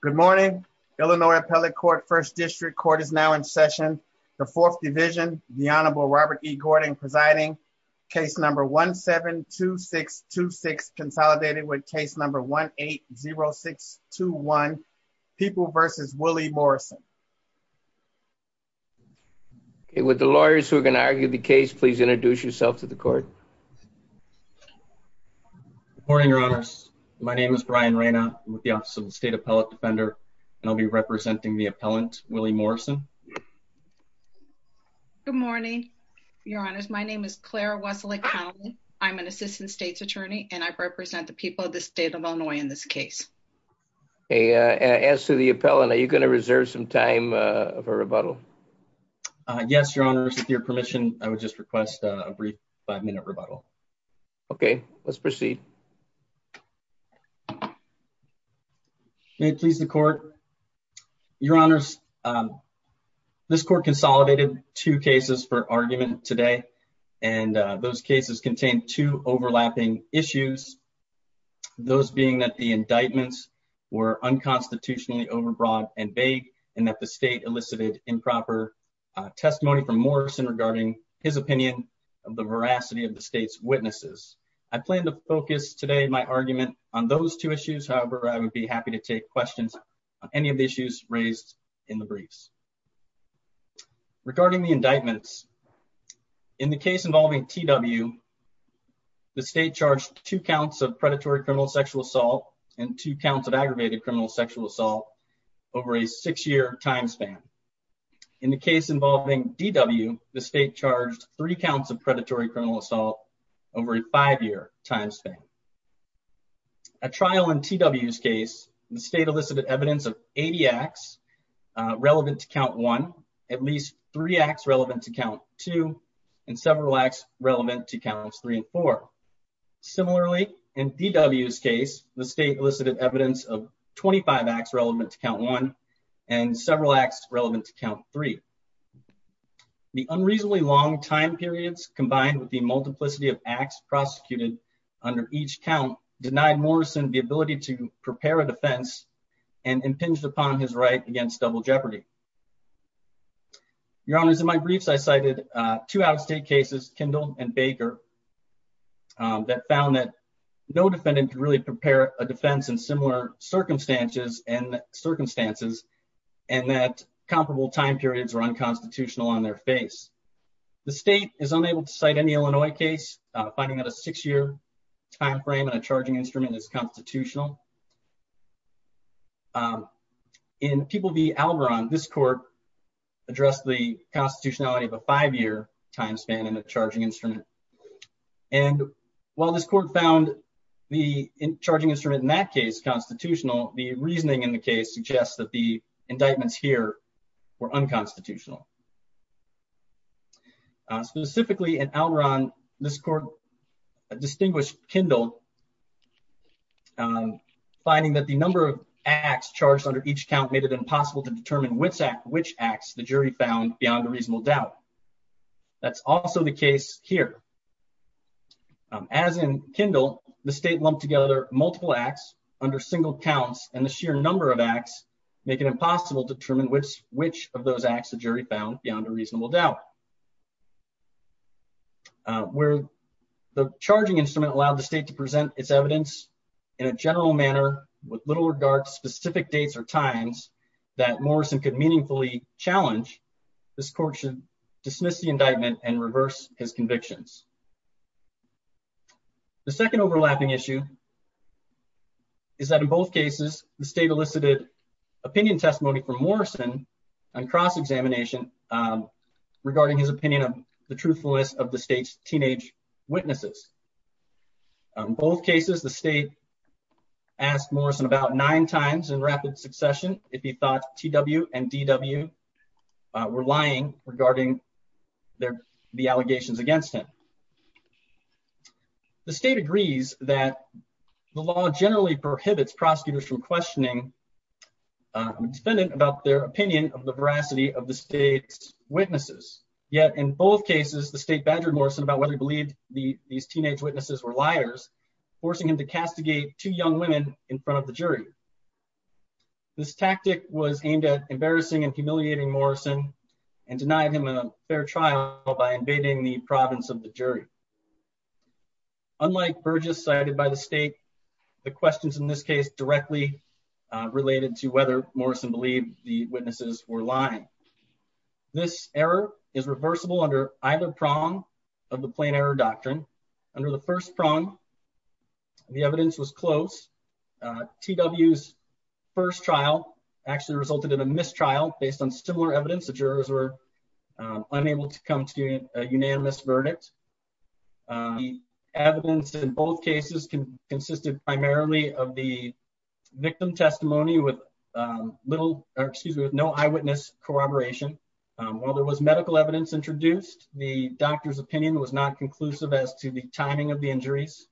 Good morning, Illinois Appellate Court First District Court is now in session. The Fourth Division, the Honorable Robert E. Gordon presiding. Case number 1-7-2-6-2-6 consolidated with case number 1-8-0-6-2-1 People versus Willie Morrison. Okay with the lawyers who are going to argue the case, please introduce yourself to the court. Good morning, Your Honors. My name is Brian Reyna with the Office of the State Appellate Defender and I'll be representing the appellant, Willie Morrison. Good morning, Your Honors. My name is Clara Wesolick-Henley. I'm an Assistant States Attorney and I represent the people of the state of Illinois in this case. Okay, as to the appellant, are you going to reserve some time for rebuttal? Yes, Your Honors. With your permission, I would just request a brief five-minute rebuttal. Okay, let's proceed. May it please the court. Your Honors, this court consolidated two cases for argument today and those cases contain two overlapping issues. Those being that the indictments were unconstitutionally overbroad and vague and that the state elicited improper testimony from Morrison regarding his opinion of the veracity of the state's witnesses. I plan to focus today my argument on those two issues. However, I would be happy to take questions on any of the issues raised in the briefs. Regarding the indictments, in the case involving T.W., the state charged two counts of predatory criminal sexual assault and two counts of aggravated criminal sexual assault over a six-year time span. In the case involving D.W., the state charged three counts of predatory criminal assault over a five-year time span. At trial in T.W.'s case, the state elicited evidence of 80 acts relevant to count one, at least three acts relevant to count two, and several acts relevant to counts three and four. Similarly, in D.W.'s case, the state elicited evidence of 25 acts relevant to count one and several acts relevant to count three. The unreasonably long time periods combined with the multiplicity of acts prosecuted under each count denied Morrison the ability to prepare a defense and impinged upon his right against double jeopardy. Your Honors, in my briefs, I cited two out-of-state cases, Kindle and Baker, that found that no defendant could really prepare a defense in similar circumstances and that comparable time periods were unconstitutional on their face. The state is unable to cite any Illinois case, finding that a six-year time frame and a charging instrument is constitutional. In People v. Alvaron, this court addressed the constitutionality of a five-year time span and a charging instrument, and while this court found the charging instrument in that case constitutional, the reasoning in the case suggests that the indictments here were unconstitutional. Specifically in Alvaron, this court distinguished Kindle finding that the number of acts charged under each count made it impossible to determine which acts the jury found beyond a reasonable doubt. That's also the case here. As in Kindle, the state lumped together multiple acts under single counts, and the sheer number of acts make it impossible to determine which of those acts the jury found beyond a reasonable doubt. Where the charging instrument allowed the state to present its evidence in a general manner with little regard to specific dates or times that Morrison could meaningfully challenge, this court should dismiss the indictment and reverse his convictions. The second overlapping issue is that in both cases, the state elicited opinion testimony from Morrison on cross-examination regarding his opinion of the truthfulness of the state's teenage witnesses. In both cases, the state asked Morrison about nine times in rapid succession if he thought T.W. and D.W. were lying regarding the allegations against him. The state agrees that the law generally prohibits prosecutors from questioning a defendant about their opinion of the veracity of the state witnesses. Yet in both cases, the state badgered Morrison about whether he believed these teenage witnesses were liars, forcing him to castigate two young women in front of the jury. This tactic was aimed at embarrassing and humiliating Morrison and denied him a fair trial by invading the province of the jury. Unlike Burgess cited by the state, the questions in this directly related to whether Morrison believed the witnesses were lying. This error is reversible under either prong of the plain error doctrine. Under the first prong, the evidence was close. T.W.'s first trial actually resulted in a mistrial based on similar evidence. The jurors were unable to come to a unanimous verdict. The evidence in both cases consisted primarily of the victim testimony with no eyewitness corroboration. While there was medical evidence introduced, the doctor's opinion was not conclusive as to the timing of the injuries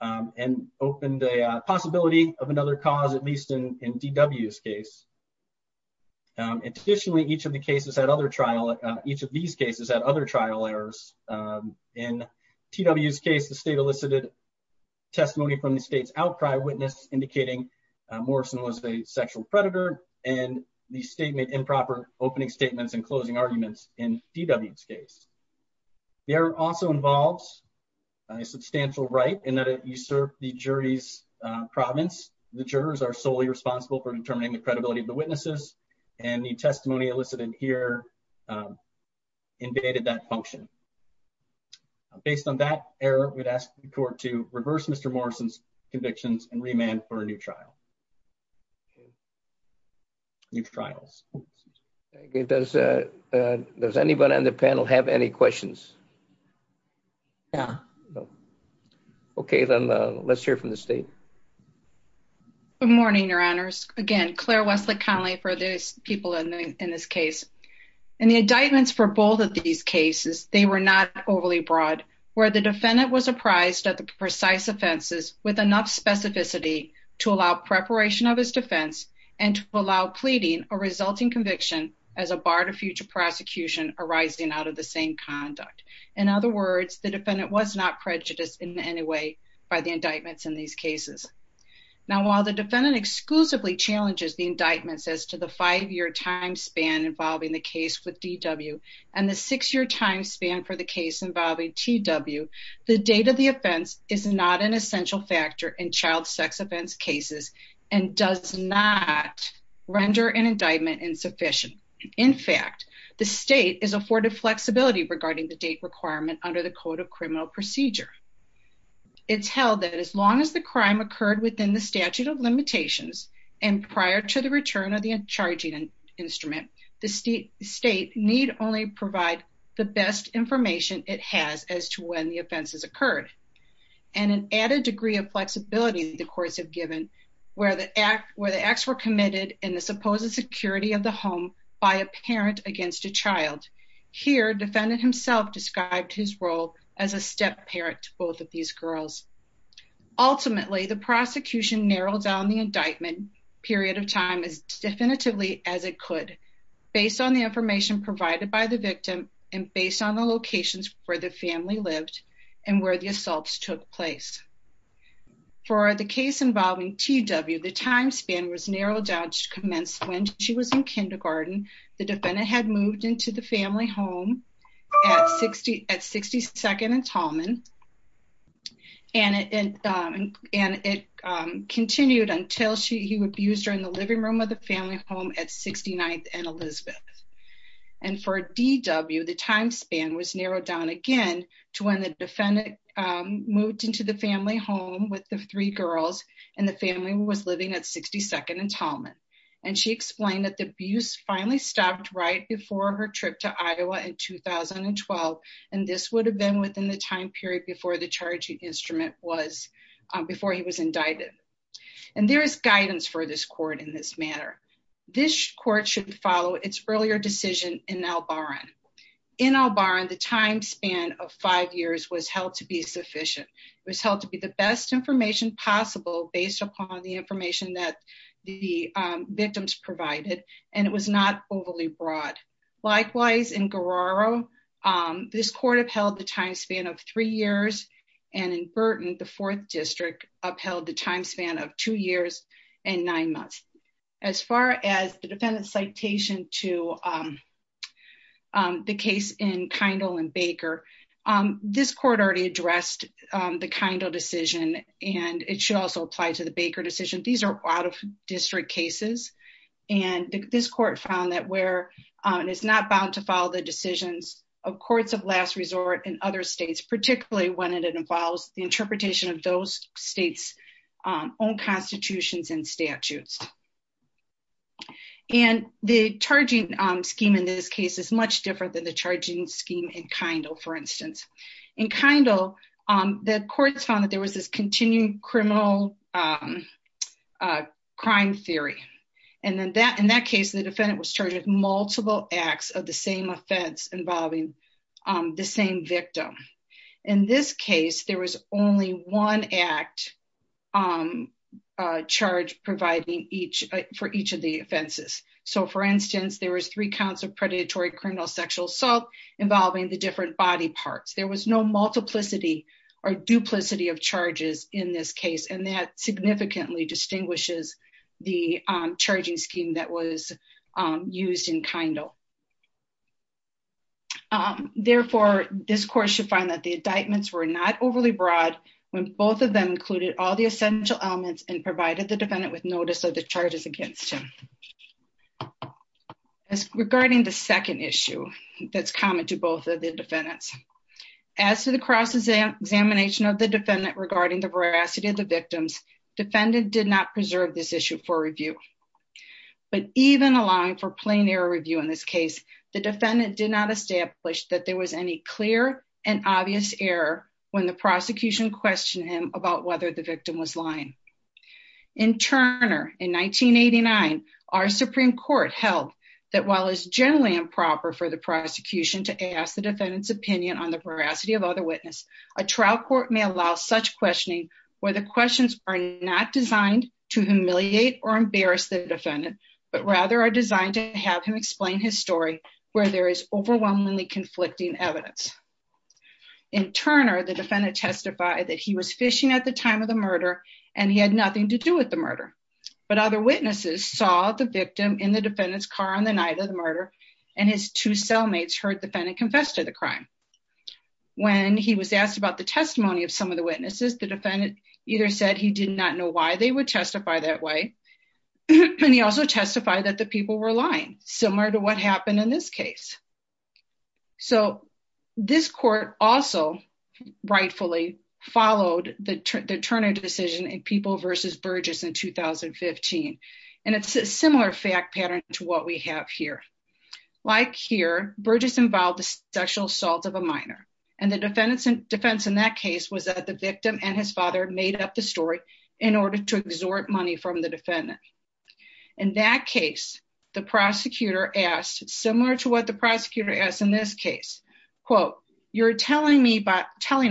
and opened a possibility of another cause, at least in T.W.'s case. Additionally, each of these cases had other trial errors. In T.W.'s case, the state elicited testimony from the state's outcry witness indicating Morrison was a sexual predator and the statement improper opening statements and closing arguments in T.W.'s case. The error also involves a substantial right in that it usurped the jury's province. The jurors are solely responsible for determining the credibility of the witnesses and the testimony elicited here invaded that function. Based on that error, we'd ask the court to reverse Mr. Morrison's convictions and remand for a new trial. New trials. Does anyone on the panel have any questions? No. Okay, then let's hear from the state. Good morning, Your Honors. Again, Claire Wesley Conley for the people in this case. In the indictments for both of these cases, they were not overly broad, where the defendant was apprised of the precise offenses with enough specificity to allow preparation of his defense and to allow pleading a resulting conviction as a bar to future prosecution arising out of the same conduct. In other words, the defendant was not prejudiced in any way by the indictments in these cases. Now, while the defendant exclusively challenges the indictments as to the five-year time span involving the case with D.W. and the six-year time span for the case involving T.W., the date of the offense is not an essential factor in child sex offense cases and does not render an indictment insufficient. In fact, the state is afforded flexibility regarding the date requirement under the Code of Criminal Procedure. It's held that as long as the crime occurred within the statute of limitations and prior to the return of the charging instrument, the state need only provide the best information it has as to when the offense has occurred. And an added degree of flexibility the courts have given where the acts were committed in the of the home by a parent against a child. Here, defendant himself described his role as a step parent to both of these girls. Ultimately, the prosecution narrowed down the indictment period of time as definitively as it could based on the information provided by the victim and based on the locations where the family lived and where the assaults took place. For the case involving T.W., the time span was narrowed down to commence when she was in kindergarten. The defendant had moved into the family home at 62nd and Tallman and it continued until he abused her in the living room of the family home at 69th and Elizabeth. And for D.W., the time span was narrowed down again to when the defendant moved into the family home with the three girls and the family was living at 62nd and Tallman. And she explained that the abuse finally stopped right before her trip to Iowa in 2012. And this would have been within the time period before the charging instrument was before he was indicted. And there is guidance for this matter. This court should follow its earlier decision in Albaran. In Albaran, the time span of five years was held to be sufficient. It was held to be the best information possible based upon the information that the victims provided and it was not overly broad. Likewise, in Guerrero, this court upheld the time span of three years and in Burton, the fourth district upheld the time of two years and nine months. As far as the defendant's citation to the case in Kindle and Baker, this court already addressed the Kindle decision and it should also apply to the Baker decision. These are out-of-district cases and this court found that it's not bound to follow the decisions of courts of last resort in other states, particularly when it involves the own constitutions and statutes. And the charging scheme in this case is much different than the charging scheme in Kindle, for instance. In Kindle, the courts found that there was this continuing criminal crime theory. And in that case, the defendant was charged with multiple acts of the charge providing for each of the offenses. So, for instance, there was three counts of predatory criminal sexual assault involving the different body parts. There was no multiplicity or duplicity of charges in this case and that significantly distinguishes the charging scheme that was used in Kindle. Therefore, this court should find that the indictments were not overly broad when both of them included all the essential elements and provided the defendant with notice of the charges against him. As regarding the second issue that's common to both of the defendants, as to the cross-examination of the defendant regarding the veracity of the victims, defendant did not preserve this issue for review. But even allowing for plain error review in this case, the prosecution questioned him about whether the victim was lying. In Turner, in 1989, our Supreme Court held that while it's generally improper for the prosecution to ask the defendant's opinion on the veracity of other witness, a trial court may allow such questioning where the questions are not designed to humiliate or embarrass the defendant, but rather are designed to have him explain his story where there is overwhelmingly conflicting evidence. In Turner, the defendant testified that he was fishing at the time of the murder and he had nothing to do with the murder, but other witnesses saw the victim in the defendant's car on the night of the murder and his two cellmates heard the defendant confess to the crime. When he was asked about the testimony of some of the witnesses, the defendant either said he did not know why they would testify that way and he also testified that the people were lying, similar to what happened in this case. So this court also rightfully followed the Turner decision in People v. Burgess in 2015, and it's a similar fact pattern to what we have here. Like here, Burgess involved the sexual assault of a minor, and the defense in that case was that the victim and his father made up the story in order to exhort money from the defendant. In that case, the prosecutor asked, similar to the prosecutor asked in this case, quote, you're telling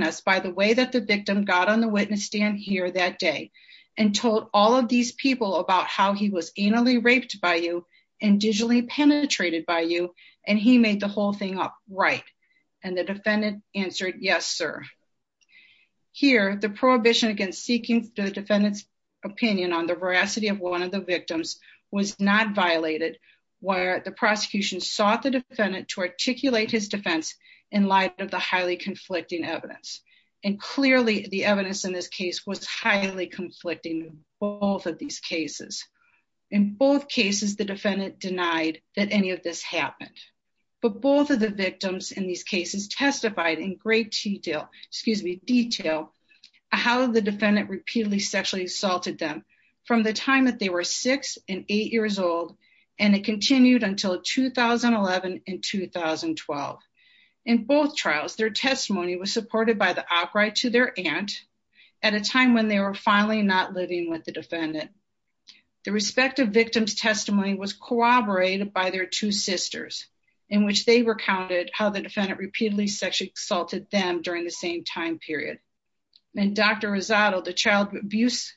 us by the way that the victim got on the witness stand here that day and told all of these people about how he was anally raped by you and digitally penetrated by you, and he made the whole thing up right? And the defendant answered, yes, sir. Here, the prohibition against seeking the defendant's opinion on the veracity of one of the victims was not violated, where the prosecution sought the defendant to articulate his defense in light of the highly conflicting evidence. And clearly, the evidence in this case was highly conflicting in both of these cases. In both cases, the defendant denied that any of this happened, but both of the victims in these cases testified in great detail, excuse me, detail, how the defendant repeatedly sexually assaulted them from the time that they were six and eight years old, and it continued until 2011 and 2012. In both trials, their testimony was supported by the operator to their aunt at a time when they were finally not living with the defendant. The respective victim's testimony was corroborated by their two sisters, in which they recounted how the defendant repeatedly sexually assaulted them during the same time period. And Dr. Rosado, the child abuse,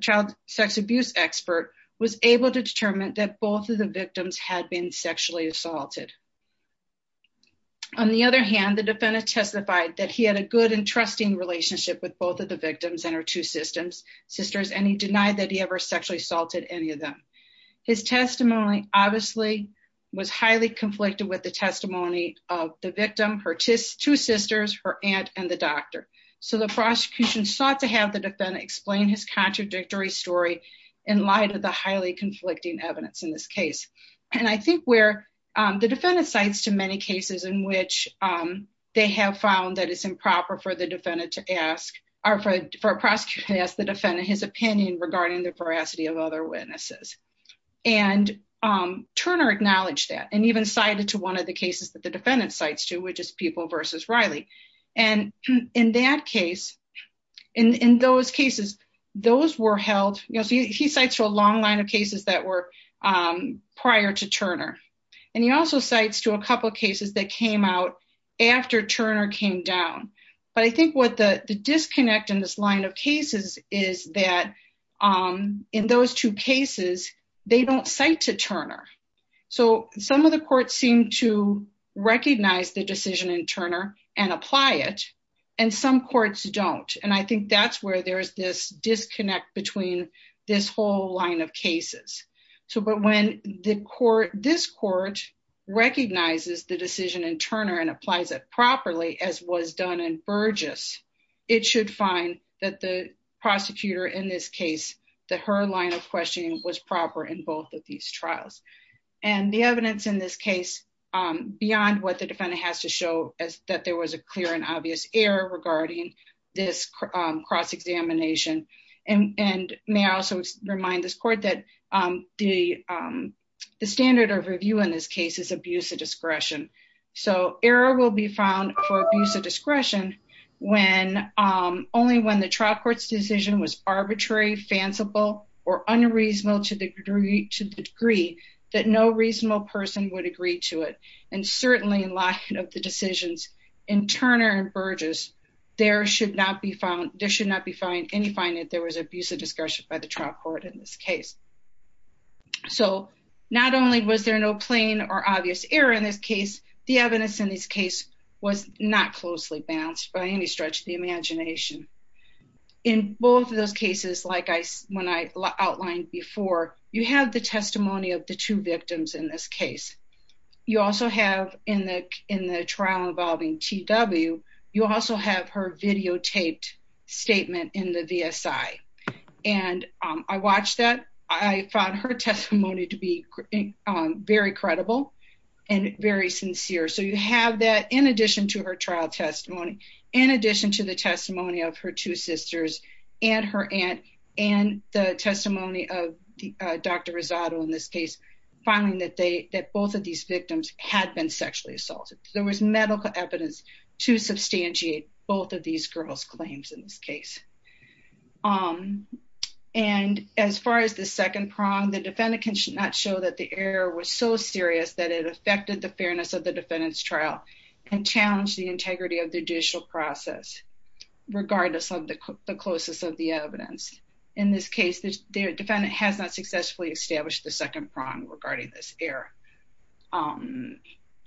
child sex abuse expert, was able to determine that both of the victims had been sexually assaulted. On the other hand, the defendant testified that he had a good and trusting relationship with both of the victims and her two sisters, and he denied that he ever sexually assaulted any of them. His testimony, obviously, was highly conflicted with the victim, her two sisters, her aunt, and the doctor. So the prosecution sought to have the defendant explain his contradictory story in light of the highly conflicting evidence in this case. And I think where the defendant cites too many cases in which they have found that it's improper for the defendant to ask, or for a prosecutor to ask the defendant his opinion regarding the veracity of other witnesses. And Turner acknowledged that, and even cited to one of the cases that the defendant cites to, which is People v. Riley. And in that case, in those cases, those were held, you know, he cites a long line of cases that were prior to Turner. And he also cites to a couple cases that came out after Turner came down. But I think what the disconnect in this line of cases is that in those two cases, they don't cite to Turner. So some of the courts seem to recognize the decision in Turner and apply it. And some courts don't. And I think that's where there's this disconnect between this whole line of cases. So but when the court, this court recognizes the prosecutor in this case, that her line of questioning was proper in both of these trials. And the evidence in this case, beyond what the defendant has to show as that there was a clear and obvious error regarding this cross examination. And may I also remind this court that the standard of review in this case is abuse of discretion. So error will be found for abuse discretion, when only when the trial court's decision was arbitrary, fanciful, or unreasonable to the degree that no reasonable person would agree to it. And certainly in light of the decisions in Turner and Burgess, there should not be found there should not be fined any fine if there was abuse of discretion by the trial court in this case. So not only was there no plain or obvious error in this case, the evidence in this case was not closely balanced by any stretch of the imagination. In both of those cases, like I when I outlined before, you have the testimony of the two victims in this case. You also have in the in the trial involving TW, you also have her videotaped statement in the VSI. And I watched that I found her testimony to be very credible and very sincere. So you have that in addition to her trial testimony, in addition to the testimony of her two sisters, and her aunt, and the testimony of Dr. Rosado in this case, finding that they that both of these victims had been sexually assaulted, there was medical evidence to substantiate both of these girls claims in this case. Um, and as far as the second prong, the defendant can not show that the error was so serious that it affected the fairness of the defendant's trial and challenged the integrity of the judicial process, regardless of the closest of the evidence. In this case, the defendant has not successfully established the second prong regarding this error.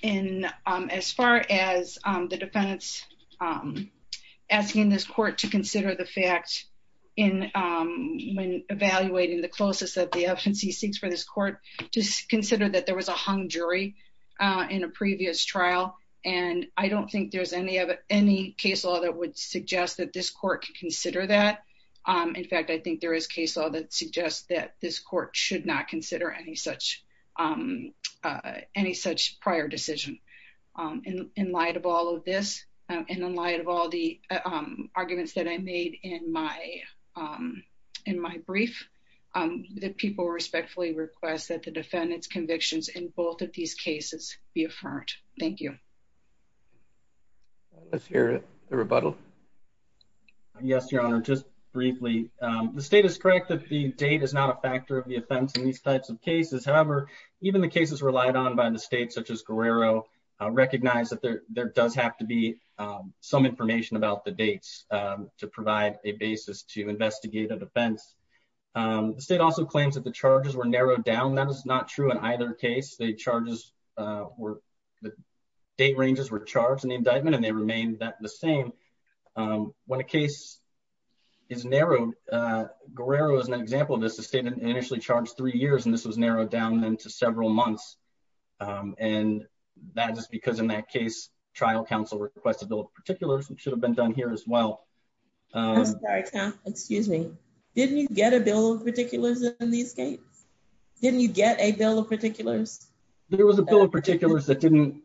And as far as the defendants asking this court to consider the fact in when evaluating the closest that the FNC seeks for this court, just consider that there was a hung jury in a previous trial. And I don't think there's any of any case law that would suggest that this court could consider that. In fact, I think there is case law that suggests that this um, uh, any such prior decision, um, in light of all of this, and in light of all the arguments that I made in my, um, in my brief, um, that people respectfully request that the defendant's convictions in both of these cases be affirmed. Thank you. Let's hear it. The rebuttal. Yes, Your Honor. Just briefly. Um, the state is correct that the date is not a factor of the offense in these types of cases. However, even the cases relied on by the state, such as Guerrero, recognize that there does have to be, um, some information about the dates, um, to provide a basis to investigate a defense. Um, the state also claims that the charges were narrowed down. That is not true in either case. The charges, uh, were, the date ranges were charged in the indictment, and they remained the same. Um, when a case is narrowed, uh, Guerrero is an example of this. The state initially charged three years, and this was narrowed down into several months. Um, and that is because in that case, trial counsel requested a bill of particulars, which should have been done here as well. Uh, excuse me. Didn't you get a bill of particulars in these cases? Didn't you get a bill of particulars? There was a bill of particulars that didn't,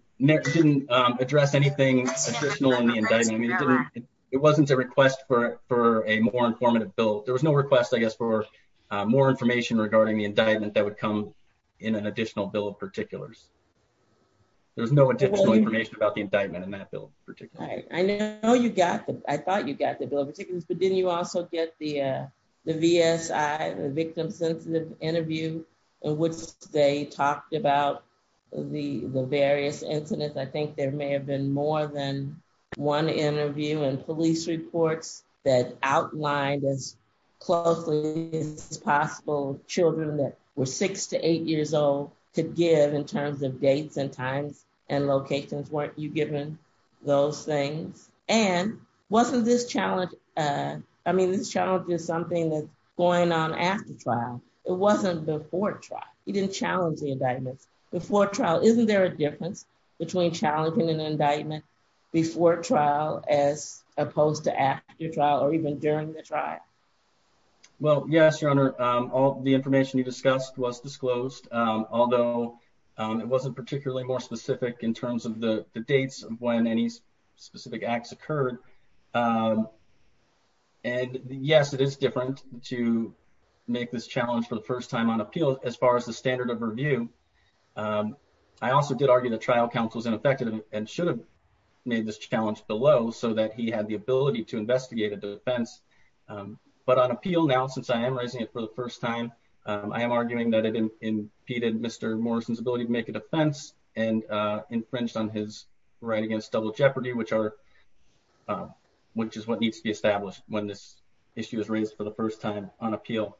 um, address anything additional in the indictment. It wasn't a request for, for a more informative bill. There was no request, I guess, for, uh, more information regarding the indictment that would come in an additional bill of particulars. There was no additional information about the indictment in that bill of particulars. I know you got the, I thought you got the bill of particulars, but didn't you also get the, uh, the VSI, the victim-sensitive interview in which they talked about the, the various incidents? I outlined as closely as possible children that were six to eight years old could give in terms of dates and times and locations. Weren't you given those things? And wasn't this challenge, uh, I mean, this challenge is something that's going on after trial. It wasn't before trial. You didn't challenge the indictments before trial. Isn't there a difference between challenging an even during the trial? Well, yes, your honor. Um, all the information you discussed was disclosed. Um, although, um, it wasn't particularly more specific in terms of the dates of when any specific acts occurred. Um, and yes, it is different to make this challenge for the first time on appeal as far as the standard of review. Um, I also did argue the trial counsel was ineffective and should have made this challenge below so that he had the ability to investigate a defense. Um, but on appeal now, since I am raising it for the first time, um, I am arguing that it impeded Mr. Morrison's ability to make a defense and, uh, infringed on his right against double jeopardy, which are, um, which is what needs to be established when this issue is raised for the first time on appeal.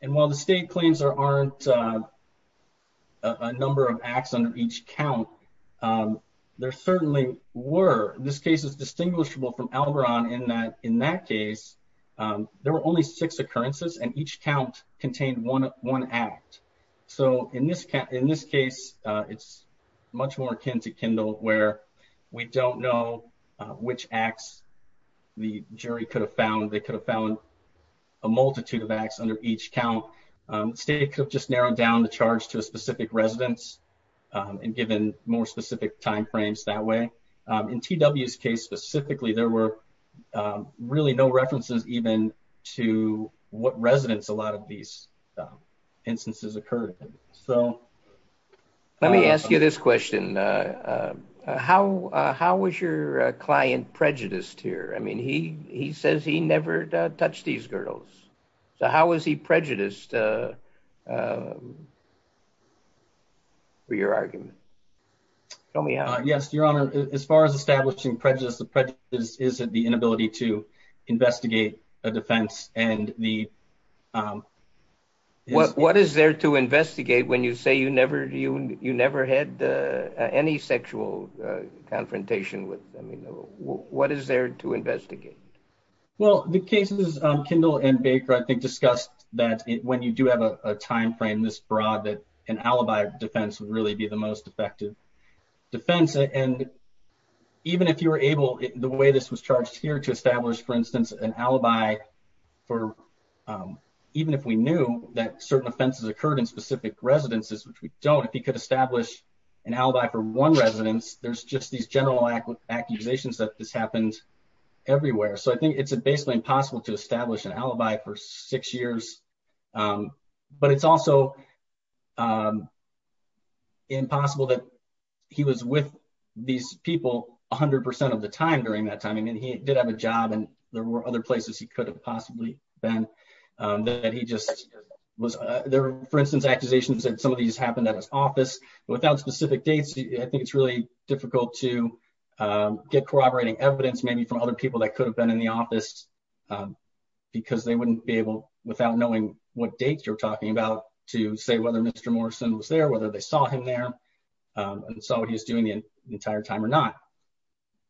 And while the state claims there aren't, uh, a number of acts under each count, um, there certainly were. This case is distinguishable from Algoron in that, in that case, um, there were only six occurrences and each count contained one, one act. So in this, in this case, uh, it's much more akin to Kindle where we don't know which acts the jury could have found. They could have found a multitude of acts under each count. Um, state could have just given more specific timeframes that way. Um, in TW's case specifically, there were, um, really no references even to what residents, a lot of these instances occurred. So let me ask you this question. Uh, uh, how, uh, how was your client prejudiced here? I mean, he, he says he never touched these girls. So how was he prejudiced, uh, um, for your argument? Tell me how. Uh, yes, your honor. As far as establishing prejudice, the prejudice is the inability to investigate a defense and the, um, what, what is there to investigate when you say you never, you, you never had, uh, any sexual, uh, confrontation with, I mean, what is there to investigate? Well, the cases, um, Kindle and Baker, I think discussed that when you do have a timeframe this broad, that an alibi defense would really be the most effective defense. And even if you were able, the way this was charged here to establish, for instance, an alibi for, um, even if we knew that certain offenses occurred in specific residences, which we don't, if he could establish an alibi for one residence, there's just these general accusations that this everywhere. So I think it's basically impossible to establish an alibi for six years. Um, but it's also, um, impossible that he was with these people a hundred percent of the time during that time. I mean, he did have a job and there were other places he could have possibly been, um, that he just was, uh, there were, for instance, accusations that some of these happened at his office, but without specific dates, I think it's really difficult to, um, get corroborating evidence, maybe from other people that could have been in the office, um, because they wouldn't be able without knowing what dates you're talking about to say whether Mr. Morrison was there, whether they saw him there, um, and saw what he was doing the entire time or not.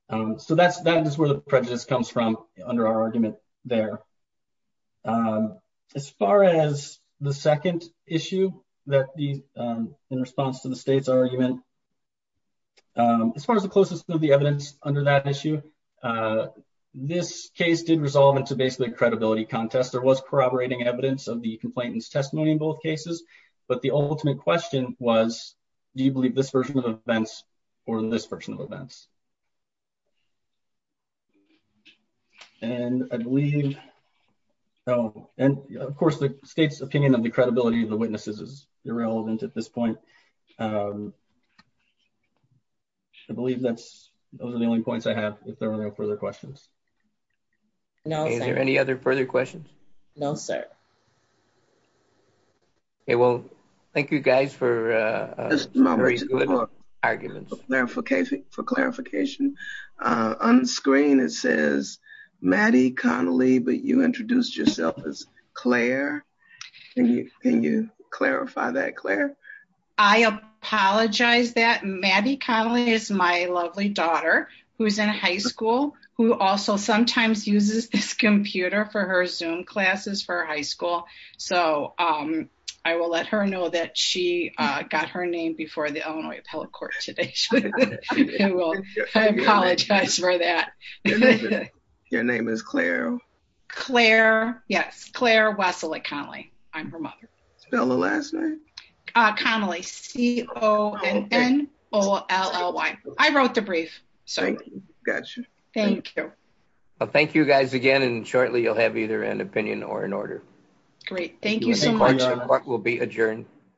Um, so that's, that is where the prejudice comes from under our argument there. Um, as far as the second issue that the, um, in response to the state's argument, um, as far as the closest of the evidence under that issue, uh, this case did resolve into basically a credibility contest. There was corroborating evidence of the complainant's testimony in both cases, but the ultimate question was, do you believe this version of events or this version witnesses is irrelevant at this point? Um, I believe that's, those are the only points I have if there are no further questions. No, is there any other further questions? No, sir. Okay. Well, thank you guys for, uh, for clarification, uh, on screen, it says Maddie Connolly, but you introduced yourself as Claire. Can you clarify that Claire? I apologize that Maddie Connolly is my lovely daughter who's in high school, who also sometimes uses this computer for her zoom classes for high school. So, um, I will let her know that she, uh, got her name before the Illinois appellate court today. I apologize for that. Your name is Claire? Claire. Yes. Claire Wesley Connelly. I'm her mother. Spell the last name. Connelly. C O N O L L Y. I wrote the brief. Gotcha. Thank you. Well, thank you guys again. And shortly you'll have either an opinion or an order. Great. Thank you so much. We'll be adjourned.